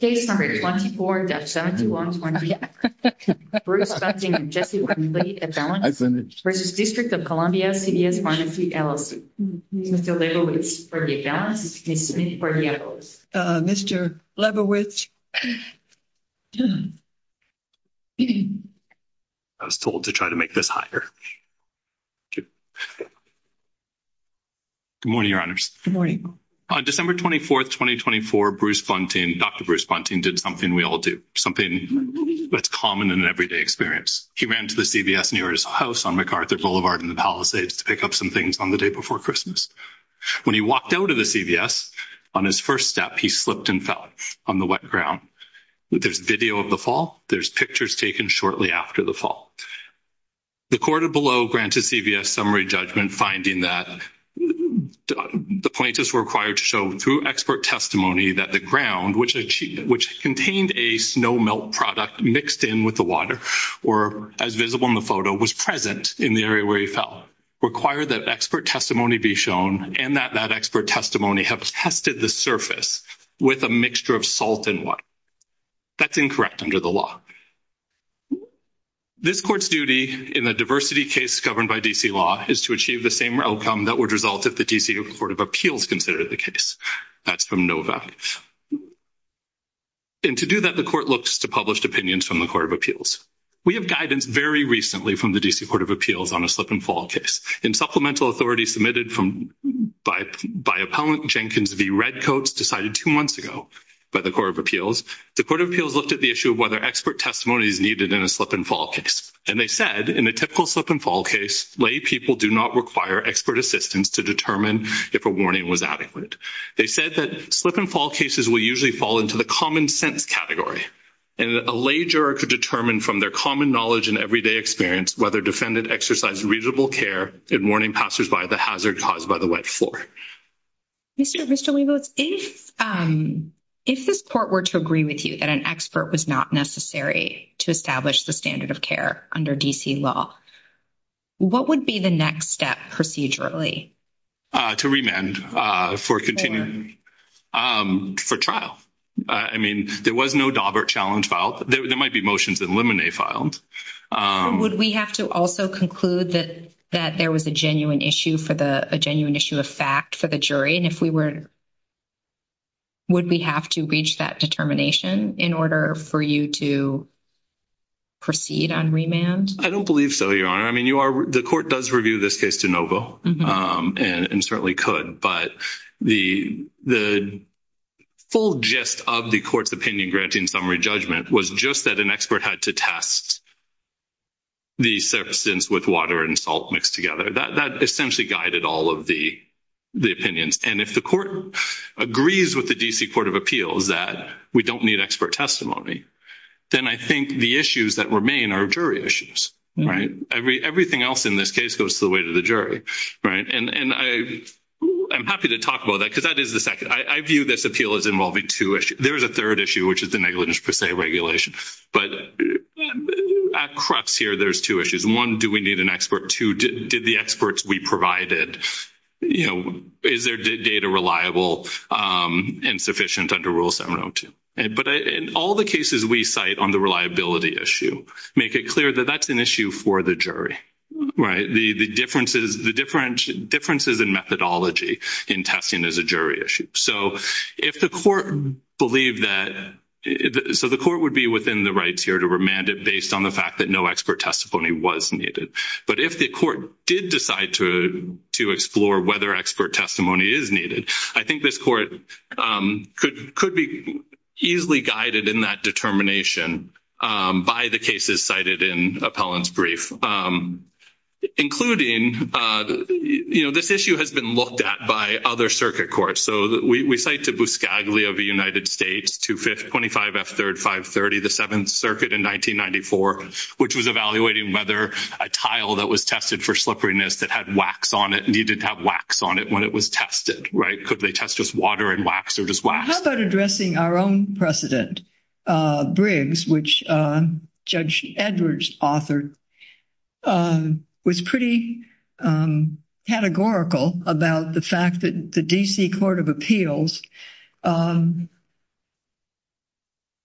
Case number 24-7120, Bruce Bunting v. District of Columbia CVS Pharmacy, LLC Mr. Lebowitz for the balance, Ms. Smith for the equals Uh, Mr. Lebowitz I was told to try to make this higher Good morning, your honors Good morning On December 24th, 2024, Bruce Bunting, Dr. Bruce Bunting did something we all do, something that's common in an everyday experience. He ran to the CVS nearest house on MacArthur Boulevard in the Palisades to pick up some things on the day before Christmas. When he walked out of the CVS, on his first step, he slipped and fell on the wet ground. There's video of the fall. There's pictures taken shortly after the fall. The court below granted CVS summary judgment finding that the plaintiffs were required to show through expert testimony that the ground, which contained a snow melt product mixed in with the water, or as visible in the photo, was present in the area where he fell. Require that expert testimony be shown and that that expert testimony have tested the surface with a mixture of salt and water. That's incorrect under the law. This court's duty in a diversity case governed by DC law is to achieve the same outcome that would result if the DC Court of Appeals considered the case. That's from Nova. And to do that, the court looks to published opinions from the Court of Appeals. We have guidance very recently from the DC Court of Appeals on a slip and fall case. In supplemental authority submitted by Appellant Jenkins v. Redcoats, decided two months ago by the Court of Appeals, the Court of Appeals looked at the issue of whether expert testimony is needed in a slip and fall case. And they said, in a typical slip and fall case, lay people do not require expert assistance to determine if a warning was adequate. They said that slip and fall cases will usually fall into the common sense category, and a lay juror could determine from their common knowledge and everyday experience whether defendant exercised reasonable care in warning passersby the hazard caused by the wet floor. Mr. Weboats, if this court were to agree with you that an expert was not necessary to establish the standard of care under DC law, what would be the next step procedurally? To remand for continuing for trial. I mean, there was no Daubert challenge filed. There might be motions that Lemonet filed. Would we have to also conclude that there was a genuine issue of fact for the jury? And if we were, would we have to reach that determination in order for you to proceed on remand? I don't believe so, Your Honor. I mean, the court does review this case de novo, and certainly could. But the full gist of the court's opinion granting summary judgment was just that an expert had to test the substance with water and salt mixed together. That essentially guided all of the opinions. And if the court agrees with the DC Court of Appeals that we don't need expert testimony, then I think the issues that remain are jury issues, right? Everything else in this case goes to the weight of the jury, right? And I'm happy to talk about that because that is the second. I view this appeal as involving two issues. There is a third issue, which is the negligence per se regulation. But at crux here, there's two issues. One, do we need an expert? Two, did the experts we provided, you know, is their data reliable and sufficient under Rule 702? But in all the cases we cite on the reliability issue, make it clear that that's an issue for the jury, right? The differences in methodology in testing is a jury issue. So if the court believed that—so the court would be within the rights here to remand it based on the fact that no expert testimony was needed. But if the court did decide to explore whether expert testimony is needed, I think this court could be easily guided in that determination by the cases cited in Appellant's brief, including, you know, this issue has been looked at by other circuit courts. So we cite to Buscaglia of the United States, 25 F. 3rd, 530, the Seventh Circuit in 1994, which was evaluating whether a tile that was tested for slipperiness that had wax on it needed to have wax on it when it was tested, right? Could they test just water and wax or just wax? How about addressing our own precedent, Briggs, which Judge Edwards authored, was pretty categorical about the fact that the D.C. Court of Appeals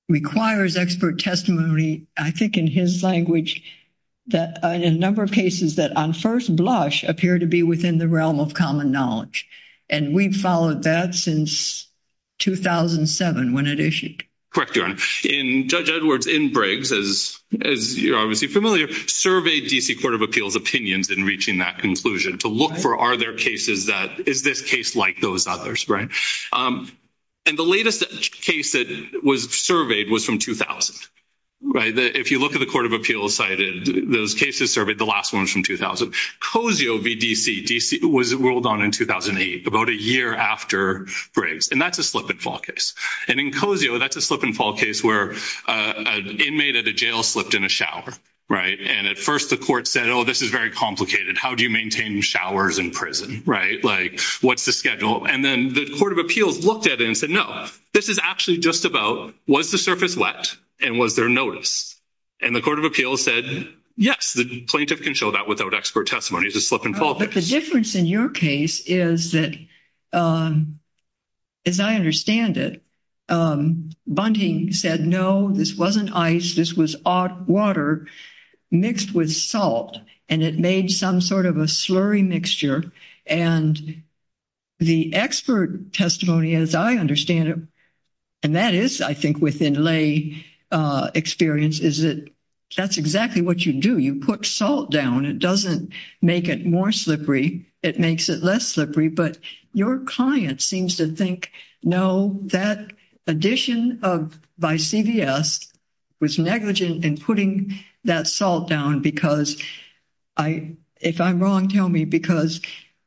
requires expert testimony, I think in his language, that a number of cases that on first blush appear to be within the realm of common knowledge. And we've followed that since 2007 when it issued. Correct, Your Honor. In Judge Edwards, in Briggs, as you're obviously familiar, surveyed D.C. Court of Appeals opinions in reaching that conclusion to look for are there cases that—is this case like those others, right? And the latest case that was surveyed was from 2000, right? If you look at the Court of Appeals cited, those cases surveyed, the last one was from 2000. Cozio v. D.C. was ruled on in 2008, about a year after Briggs. And that's a slip-and-fall case. And in Cozio, that's a slip-and-fall case where an inmate at a jail slipped in a shower, right? And at first, the court said, oh, this is very complicated. How do you maintain showers in prison, right? Like, what's the schedule? And then the Court of Appeals looked at it and said, no, this is actually just about, was the surface wet and was there notice? And the Court of Appeals said, yes. The plaintiff can show that without expert testimony. It's a slip-and-fall case. But the difference in your case is that, as I understand it, Bunting said, no, this wasn't ice. This was water mixed with salt. And it made some sort of a slurry mixture. And the expert testimony, as I understand it, and that is, I think, within lay experience, is that that's exactly what you do. You put salt down. It doesn't make it more slippery. It makes it less slippery. But your client seems to think, no, that addition by CVS was negligent in putting that salt down because, if I'm wrong, tell me, because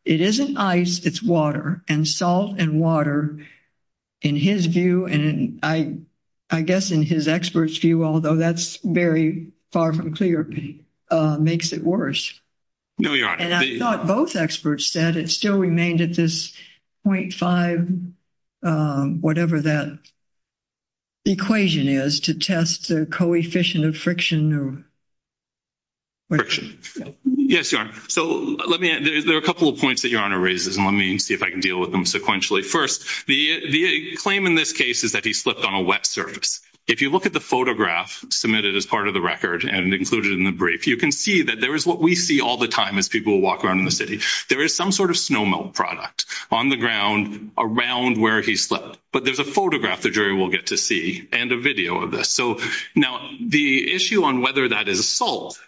it isn't ice, it's water. And salt and water, in his view, and I guess in his expert's view, although that's very far from clear, makes it worse. No, Your Honor. And I thought both experts said it still remained at this 0.5, whatever that equation is, to test the coefficient of friction. Yes, Your Honor. So there are a couple of points that Your Honor raises, and let me see if I can deal with them sequentially. First, the claim in this case is that he slipped on a wet surface. If you look at the photograph submitted as part of the record and included in the brief, you can see that there is what we see all the time as people walk around in the city. There is some sort of snowmelt product on the ground around where he slipped. But there's a photograph the jury will get to see and a video of this. So now the issue on whether that is salt,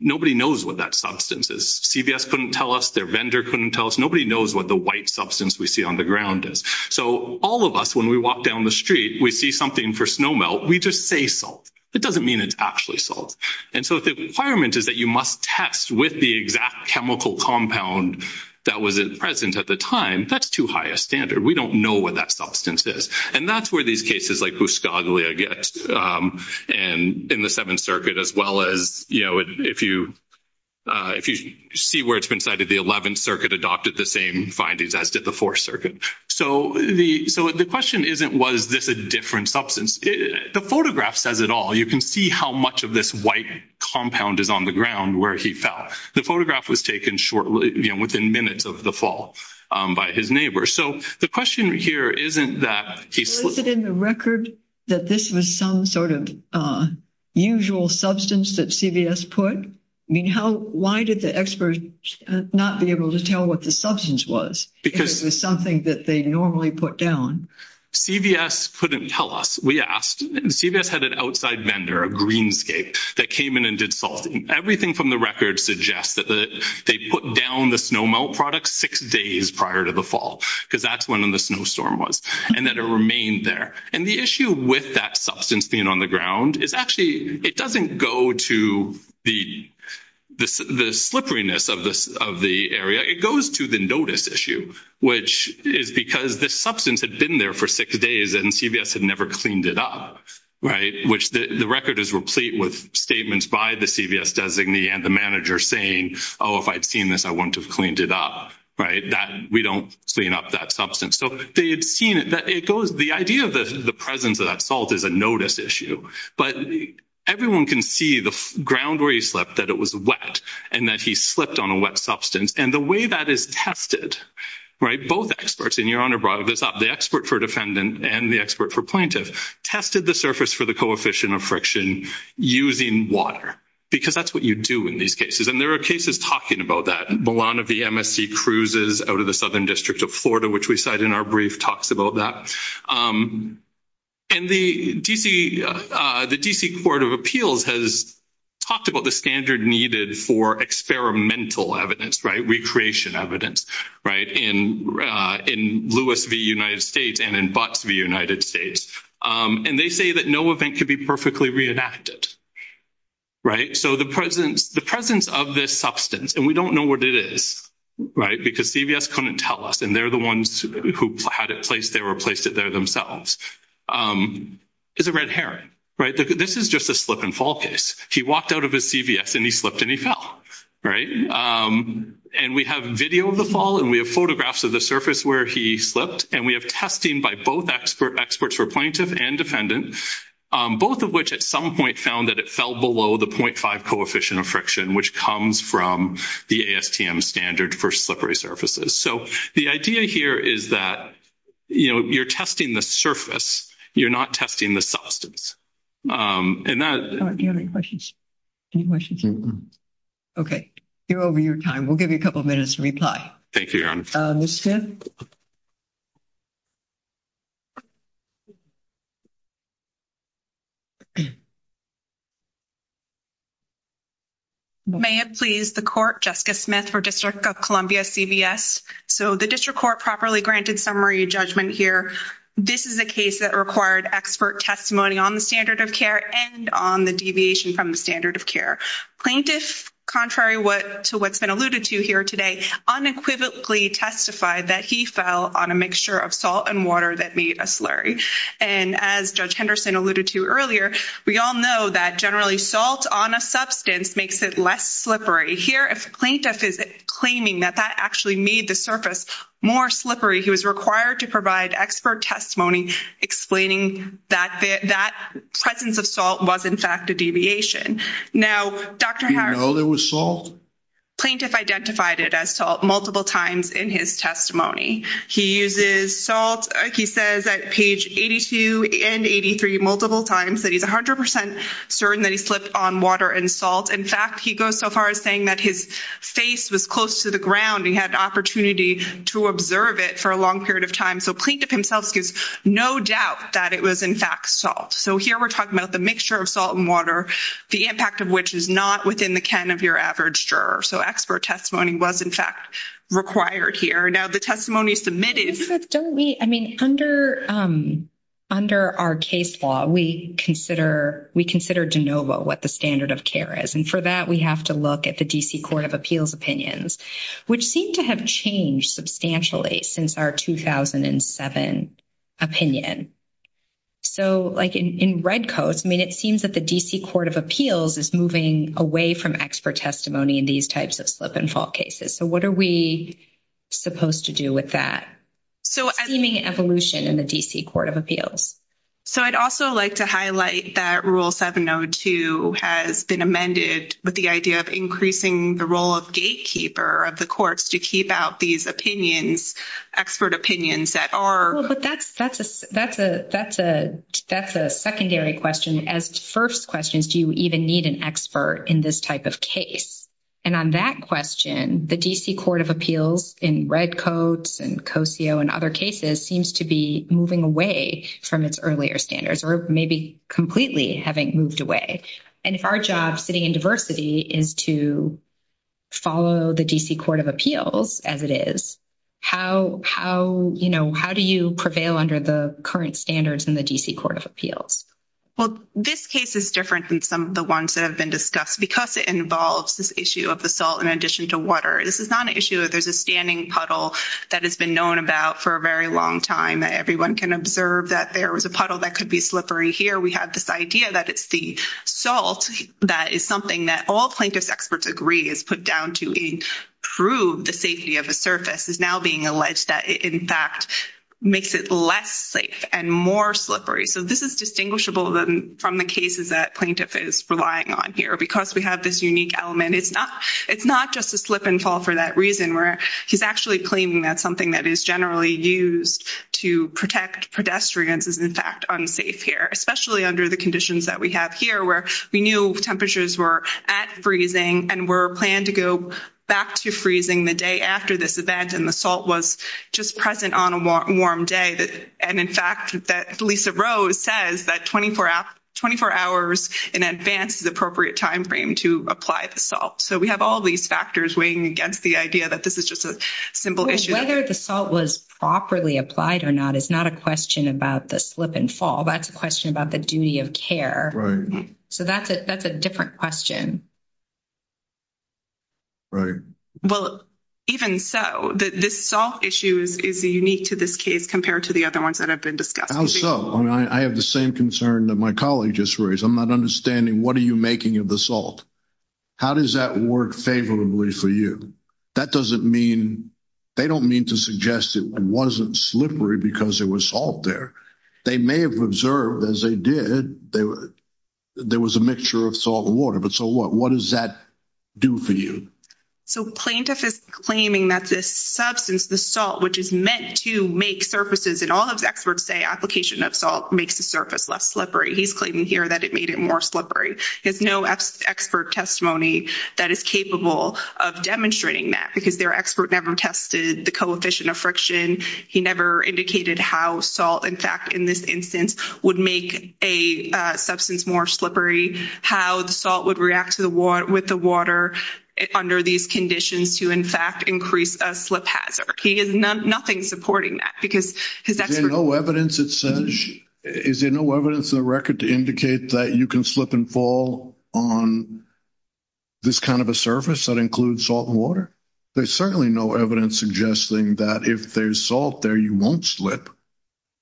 nobody knows what that substance is. CVS couldn't tell us. Their vendor couldn't tell us. Nobody knows what the white substance we see on the ground is. So all of us, when we walk down the street, we see something for snowmelt. We just say salt. It doesn't mean it's actually salt. And so if the requirement is that you must test with the exact chemical compound that was present at the time, that's too high a standard. We don't know what that substance is. And that's where these cases like Buscaglia get in the Seventh Circuit as well as, you know, if you see where it's been cited, the Eleventh Circuit adopted the same findings as did the Fourth Circuit. So the question isn't, was this a different substance? The photograph says it all. You can see how much of this white compound is on the ground where he fell. The photograph was taken shortly, you know, within minutes of the fall by his neighbor. So the question here isn't that he slipped. Is it in the record that this was some sort of usual substance that CVS put? I mean, how, why did the experts not be able to tell what the substance was? Because it was something that they normally put down. CVS couldn't tell us. We asked, and CVS had an outside vendor, a greenscape, that came in and did salt. Everything from the record suggests that they put down the snowmelt products six days prior to the fall because that's when the snowstorm was and that it remained there. And the issue with that substance being on the ground is actually, it doesn't go to the slipperiness of the area. It goes to the notice issue, which is because this substance had been there for six days and CVS had never cleaned it up, right? Which the record is replete with statements by the CVS designee and the manager saying, oh, if I'd seen this, I wouldn't have cleaned it up, right? We don't clean up that substance. So they had seen it, that it goes, the idea of the presence of that salt is a notice issue, but everyone can see the ground where he slipped, that it was wet and that he slipped on a wet substance. And the way that is tested, right? Both experts, and your Honor brought this up, the expert for defendant and the expert for plaintiff tested the surface for the coefficient of friction using water, because that's what you do in these cases. And there are cases talking about that. Milan of the MSC cruises out of the Southern District of Florida, which we cite in our brief talks about that. And the DC Court of Appeals has talked about the standard needed for experimental evidence, right? Recreation evidence, right? In Lewis v. United States and in Butts v. United States. And they say that no event could be perfectly reenacted, right? So the presence of this substance, and we don't know what it is, right? Because CVS couldn't tell us and they're the ones who had it placed there or placed it there themselves, is a red herring, right? This is just a slip and fall case. He walked out of his CVS and he slipped and he fell, right? And we have video of the fall and we have photographs of the surface where he slipped and we have testing by both experts for plaintiff and defendant, both of which at some point found that it fell below the 0.5 coefficient of friction, which comes from the ASTM standard for slippery surfaces. So the idea here is that, you know, you're testing the surface. You're not testing the substance. And that... All right, do you have any questions? Any questions? Okay, you're over your time. We'll give you a couple of minutes to reply. Thank you, Your Honor. Ms. Smith? May it please the court, Jessica Smith for District of Columbia CVS. So the district court properly granted summary judgment here. This is a case that required expert testimony on the standard of care and on the deviation from the standard of care. Plaintiff, contrary to what's been alluded to here today, unequivocally testified that he fell on a mixture of salt and water that made a slurry. And as Judge Henderson alluded to earlier, we all know that salt and water is a mixture that generally salt on a substance makes it less slippery. Here, if plaintiff is claiming that that actually made the surface more slippery, he was required to provide expert testimony explaining that that presence of salt was in fact a deviation. Now, Dr. Harris... You know there was salt? Plaintiff identified it as salt multiple times in his testimony. He uses salt. He says at page 82 and 83 multiple times that he's 100% certain that he slipped on water and salt. In fact, he goes so far as saying that his face was close to the ground. He had opportunity to observe it for a long period of time. So plaintiff himself gives no doubt that it was in fact salt. So here we're talking about the mixture of salt and water, the impact of which is not within the can of your average juror. So expert testimony was in fact required here. Now the testimony submitted... I mean, under our case law, we consider de novo what the standard of care is. And for that, we have to look at the D.C. Court of Appeals opinions, which seem to have changed substantially since our 2007 opinion. So like in red coats, I mean, it seems that the D.C. Court of Appeals is moving away from expert testimony in these types of slip and fall cases. So what are we supposed to do with that seeming evolution in the D.C. Court of Appeals? So I'd also like to highlight that Rule 702 has been amended with the idea of increasing the role of gatekeeper of the courts to keep out these opinions, expert opinions that are... Well, but that's a secondary question. As first questions, do you even need an expert in this type of case? And on that question, the D.C. Court of Appeals in red coats and COSEO and other cases seems to be moving away from its earlier standards or maybe completely having moved away. And if our job sitting in diversity is to follow the D.C. Court of Appeals as it is, how do you prevail under the current standards in the D.C. Court of Appeals? Well, this case is different than some of the ones that have been discussed because it involves this issue of the salt in addition to water. This is not an issue. There's a standing puddle that has been known about for a very long time. Everyone can observe that there was a puddle that could be slippery. Here, we have this idea that it's the salt that is something that all plaintiff's experts agree is put down to improve the safety of a surface is now being alleged that it, in fact, makes it less safe and more slippery. So this is distinguishable from the cases that plaintiff is relying on here. Because we have this unique element, it's not just a slip and fall for that reason where he's actually claiming that something that is generally used to protect pedestrians is, in fact, unsafe here, especially under the conditions that we have here where we knew temperatures were at freezing and were planned to go back to freezing the day after this event and the salt was just present on a warm day. And in fact, Lisa Rose says that 24 hours in advance is the appropriate time frame to apply the salt. So we have all these factors weighing against the idea that this is just a simple issue. Whether the salt was properly applied or not is not a question about the slip and fall. That's a question about the duty of care. So that's a different question. Right. Well, even so, this salt issue is unique to this case compared to the other ones that have been discussed. Also, I have the same concern that my colleague just raised. I'm not understanding what are you making of the salt? How does that work favorably for you? That doesn't mean, they don't mean to suggest it wasn't slippery because there was salt there. They may have observed, as they did, there was a mixture of salt and water. But so what? Does that do for you? So plaintiff is claiming that this substance, the salt, which is meant to make surfaces and all of the experts say application of salt makes the surface less slippery. He's claiming here that it made it more slippery. There's no expert testimony that is capable of demonstrating that because their expert never tested the coefficient of friction. He never indicated how salt, in fact, in this instance, would make a substance more slippery. How the salt would react to the water with the water under these conditions to, in fact, increase a slip hazard. He is nothing supporting that because his expert. Is there no evidence that says, is there no evidence in the record to indicate that you can slip and fall on this kind of a surface that includes salt and water? There's certainly no evidence suggesting that if there's salt there, you won't slip.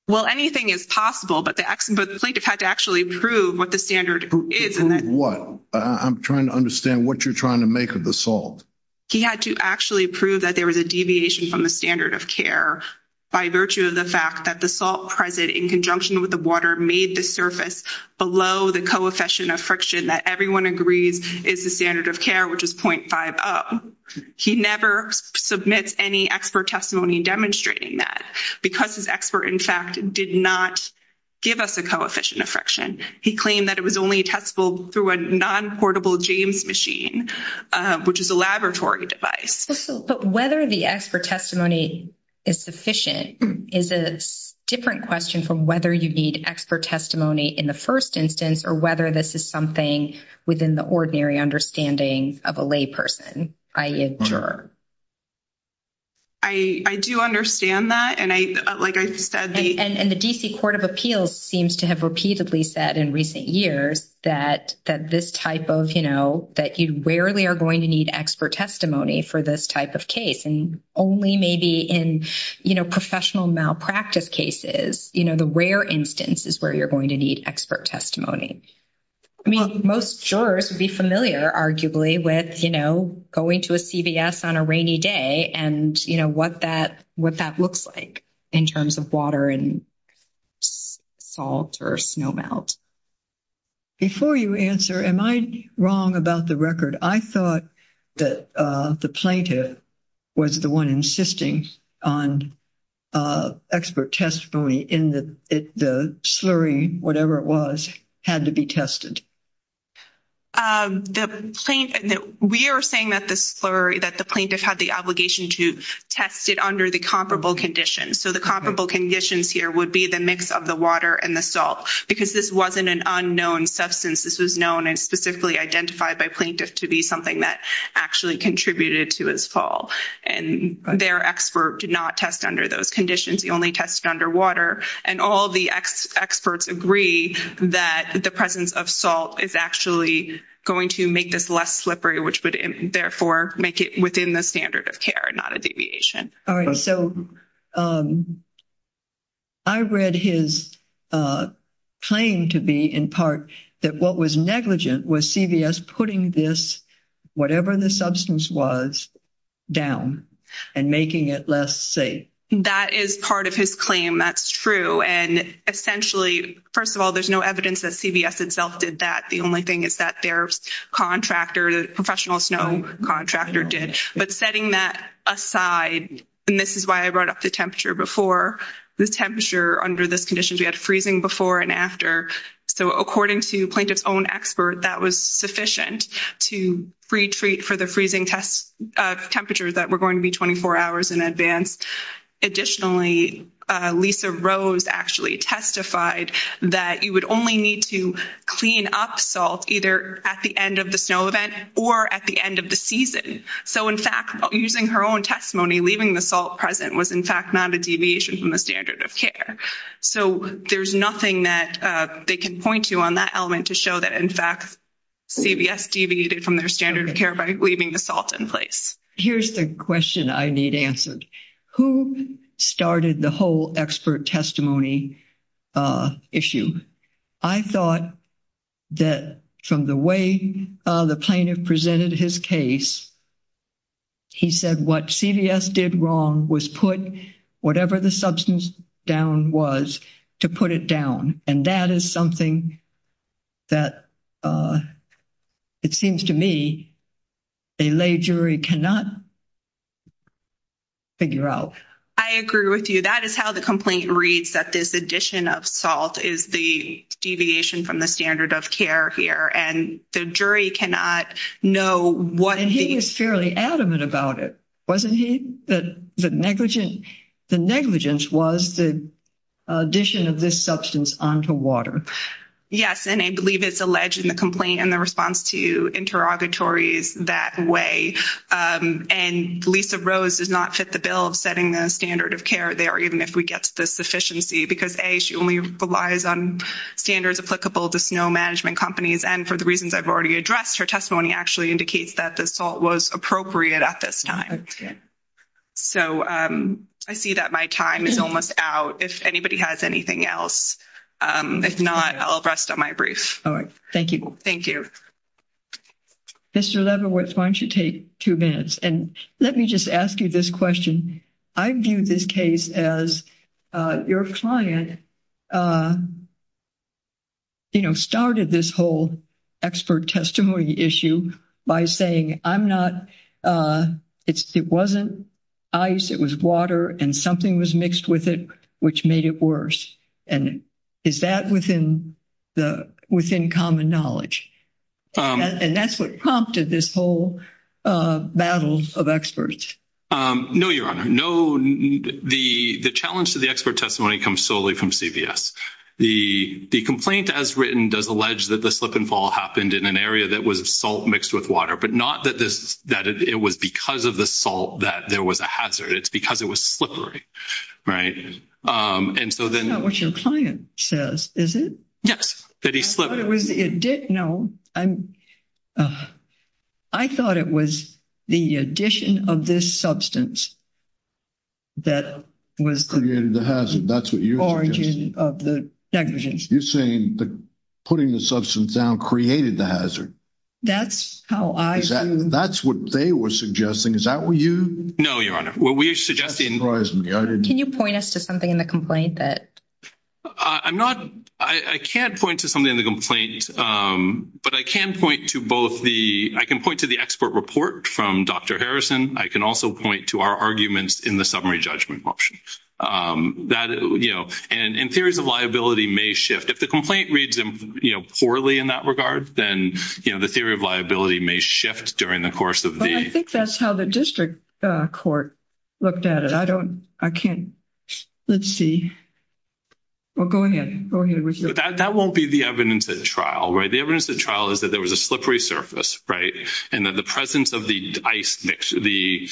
Well, anything is possible, but the plaintiff had to actually prove what the standard is. Prove what? I'm trying to understand what you're trying to make of the salt. He had to actually prove that there was a deviation from the standard of care by virtue of the fact that the salt present in conjunction with the water made the surface below the coefficient of friction that everyone agrees is the standard of care, which is 0.50. He never submits any expert testimony demonstrating that because his expert, in fact, did not give us a coefficient of friction. He claimed that it was only testable through a non-portable James machine, which is a laboratory device. But whether the expert testimony is sufficient is a different question from whether you need expert testimony in the first instance or whether this is something within the ordinary understanding of a layperson, i.e., a juror. I do understand that. And the D.C. Court of Appeals seems to have repeatedly said in recent years that this type of, you know, that you rarely are going to need expert testimony for this type of case. And only maybe in professional malpractice cases, you know, the rare instance is where you're going to need expert testimony. I mean, most jurors would be familiar, arguably, with, you know, going to a CVS on a rainy day and, you know, what that looks like in terms of water and salt or snow melt. Before you answer, am I wrong about the record? I thought that the plaintiff was the one insisting on expert testimony in the slurry, whatever it was, had to be tested. We are saying that the slurry, that the plaintiff had the obligation to test it under the comparable conditions. So the comparable conditions here would be the mix of the water and the salt, because this wasn't an unknown substance. This was known and specifically identified by plaintiff to be something that actually contributed to his fall. And their expert did not test under those conditions. He only tested under water. And all the experts agree that the presence of salt is actually going to make this less slippery, which would, therefore, make it within the standard of care and not a deviation. So I read his claim to be, in part, that what was negligent was CVS putting this, whatever the substance was, down and making it less safe. That is part of his claim. That's true. And essentially, first of all, there's no evidence that CVS itself did that. The only thing is that their contractor, the professional snow contractor did. But setting that aside, and this is why I brought up the temperature before, the temperature under this condition, we had freezing before and after. So according to plaintiff's own expert, that was sufficient to retreat for the freezing temperature that were going to be 24 hours in advance. Additionally, Lisa Rose actually testified that you would only need to clean up salt either at the end of the snow event or at the end of the season. So in fact, using her own testimony, leaving the salt present was, in fact, not a deviation from the standard of care. So there's nothing that they can point to on that element to show that, in fact, CVS deviated from their standard of care by leaving the salt in place. Here's the question I need answered. Who started the whole expert testimony issue? I thought that from the way the plaintiff presented his case, he said what CVS did wrong was put whatever the substance down was to put it down. And that is something that it seems to me a lay jury cannot figure out. I agree with you. That is how the complaint reads, that this addition of salt is the deviation from the standard of care here. And the jury cannot know what... And he was fairly adamant about it, wasn't he? The negligence was the addition of this substance onto water. Yes. And I believe it's alleged in the complaint and the response to interrogatories that way. And Lisa Rose does not fit the bill of setting the standard of care there, even if we get to the sufficiency because, A, she only relies on standards applicable to snow management companies. And for the reasons I've already addressed, her testimony actually indicates that the salt was appropriate at this time. So I see that my time is almost out, if anybody has anything else. If not, I'll rest on my brief. All right. Thank you. Thank you. Mr. Lebowitz, why don't you take two minutes? And let me just ask you this question. I view this case as your client started this whole expert testimony issue by saying, I'm not... It wasn't ice. It was water. And something was mixed with it, which made it worse. And is that within common knowledge? And that's what prompted this whole battle of experts. No, Your Honor. No, the challenge to the expert testimony comes solely from CVS. The complaint, as written, does allege that the slip and fall happened in an area that was salt mixed with water, but not that it was because of the salt that there was a hazard. It's because it was slippery, right? And so then... That's not what your client says, is it? Yes, that he slipped. I thought it was the addition... No, I thought it was the addition of this substance that was the origin of the negligence. You're saying that putting the substance down created the hazard. That's how I... That's what they were suggesting. Is that what you... No, Your Honor. What we're suggesting... Can you point us to something in the complaint that... I'm not... I can't point to something in the complaint, but I can point to both the... I can point to the expert report from Dr. Harrison. I can also point to our arguments in the summary judgment option. That, you know... And theories of liability may shift. If the complaint reads, you know, poorly in that regard, then, you know, the theory of liability may shift during the course of the... But I think that's how the district court looked at it. I don't... I can't... Let's see. Well, go ahead. Go ahead with your... That won't be the evidence at trial, right? The evidence at trial is that there was a slippery surface, right? And that the presence of the ice mix, the...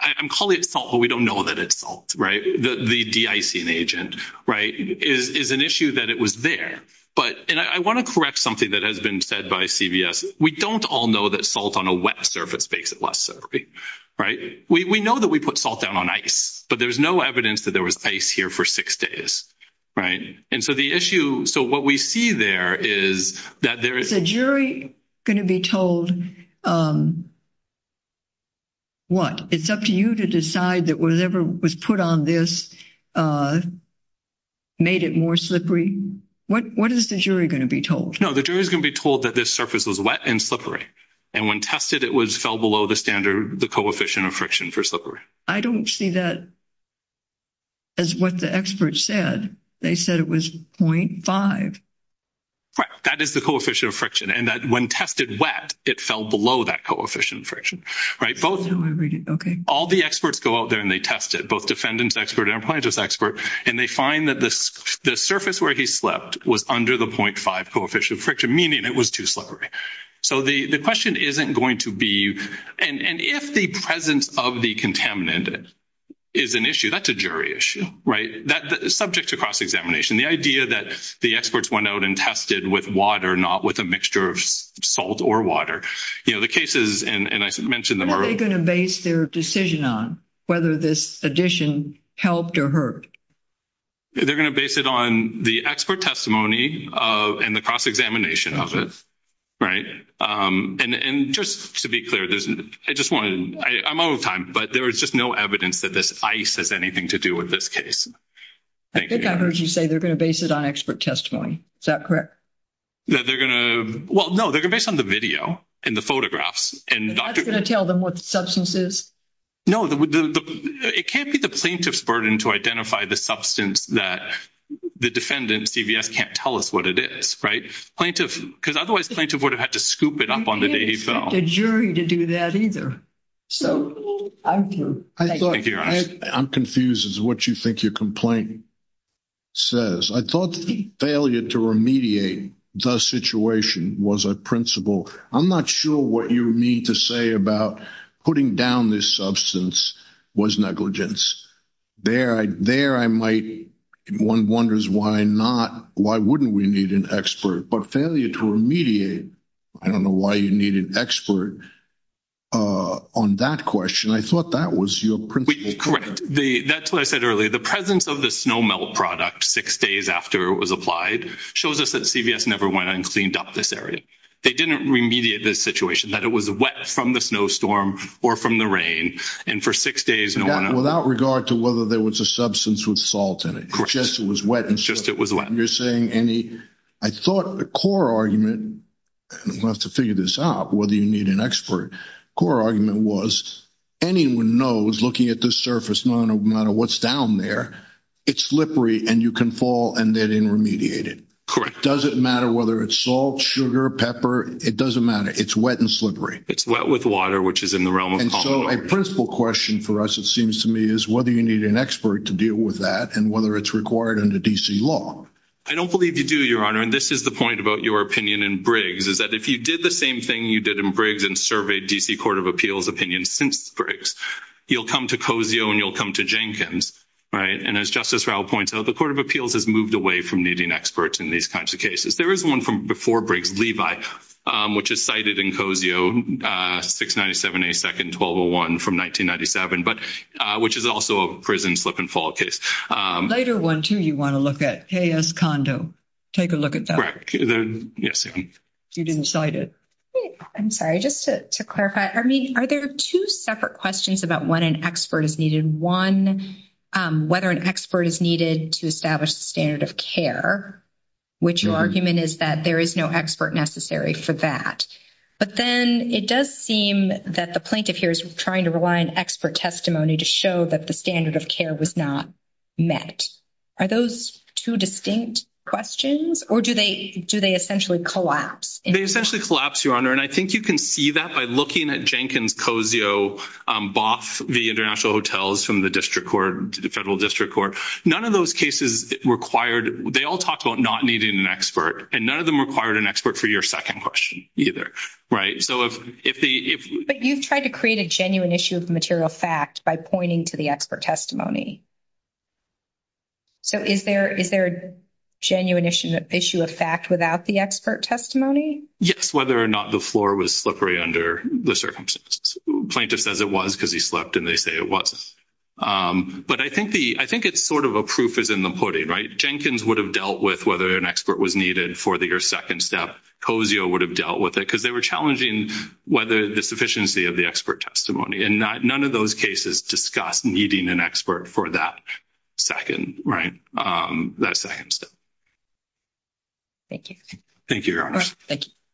I'm calling it salt, but we don't know that it's salt, right? The de-icing agent, right? Is an issue that it was there. But... And I want to correct something that has been said by CVS. We don't all know that salt on a wet surface makes it less slippery, right? We know that we put salt down on ice, but there's no evidence that there was ice here for six days, right? And so the issue... So what we see there is that there is... Is the jury going to be told what? It's up to you to decide that whatever was put on this made it more slippery. What is the jury going to be told? No, the jury is going to be told that this surface was wet and slippery. And when tested, it was fell below the standard, the coefficient of friction for slippery. I don't see that as what the experts said. They said it was 0.5. Right. That is the coefficient of friction. And that when tested wet, it fell below that coefficient friction, right? Okay. All the experts go out there and they test it, both defendant's expert and appliant's expert. And they find that the surface where he slept was under the 0.5 coefficient of friction, meaning it was too slippery. So the question isn't going to be... And if the presence of the contaminant is an issue, that's a jury issue, right? That is subject to cross-examination. The idea that the experts went out and tested with water, not with a mixture of salt or water. You know, the cases... What are they going to base their decision on? Whether this addition helped or hurt? They're going to base it on the expert testimony and the cross-examination of it. Right. And just to be clear, I'm out of time, but there is just no evidence that this ice has anything to do with this case. I think I heard you say they're going to base it on expert testimony. Is that correct? That they're going to... Well, no, they're going to base it on the video and the photographs. And that's going to tell them what the substance is? No, it can't be the plaintiff's burden to identify the substance that the defendant, CVS, can't tell us what it is, right? Plaintiff... Because otherwise, plaintiff would have had to scoop it up on the day he fell. You can't expect a jury to do that either. So I'm through. I'm confused as to what you think your complaint says. I thought the failure to remediate the situation was a principle. I'm not sure what you mean to say about putting down this substance was negligence. There I might... One wonders why not... Why wouldn't we need an expert? But failure to remediate, I don't know why you need an expert on that question. I thought that was your principle. Correct. That's what I said earlier. The presence of the snow melt product six days after it was applied shows us that CVS never went and cleaned up this area. They didn't remediate this situation, that it was wet from the snowstorm or from the rain. And for six days, no one... Without regard to whether there was a substance with salt in it. Correct. Just it was wet. Just it was wet. You're saying any... I thought the core argument, and we'll have to figure this out, whether you need an expert, core argument was anyone knows looking at this surface, no matter what's down there, it's slippery and you can fall and they didn't remediate it. Correct. Does it matter whether it's salt, sugar, pepper? It doesn't matter. It's wet and slippery. It's wet with water, which is in the realm of... And so a principle question for us, it seems to me, is whether you need an expert to deal with that and whether it's required under DC law. I don't believe you do, Your Honor. And this is the point about your opinion in Briggs is that if you did the same thing you did in Briggs and surveyed DC Court of Appeals opinions since Briggs, you'll come to Cozio and you'll come to Jenkins, right? And as Justice Rao points out, the Court of Appeals has moved away from needing experts in these kinds of cases. There is one from before Briggs, Levi, which is cited in Cozio, 697A2-1201 from 1997, which is also a prison slip and fall case. Later one too you want to look at, K.S. Condo. Take a look at that. Yes, Your Honor. You didn't cite it. I'm sorry. Just to clarify, are there two separate questions about when an expert is needed? One, whether an expert is needed to establish the standard of care, which your argument is that there is no expert necessary for that. But then it does seem that the plaintiff here is trying to rely on expert testimony to show that the standard of care was not met. Are those two distinct questions or do they essentially collapse? They essentially collapse, Your Honor. And I think you can see that by looking at Jenkins, Cozio, Boff v. International Hotels from the district court, the federal district court. None of those cases required, they all talked about not needing an expert, and none of them required an expert for your second question either. But you've tried to create a genuine issue of material fact by pointing to the expert testimony. So is there a genuine issue of fact without the expert testimony? Yes, whether or not the floor was slippery under the circumstances. Plaintiff says it was because he slept and they say it wasn't. But I think it's sort of a proof is in the pudding, right? Jenkins would have dealt with whether an expert was needed for your second step. Cozio would have dealt with it because they were challenging whether the sufficiency of the expert testimony. And none of those cases discussed needing an expert for that second step. Thank you. Thank you, Your Honor. Thank you.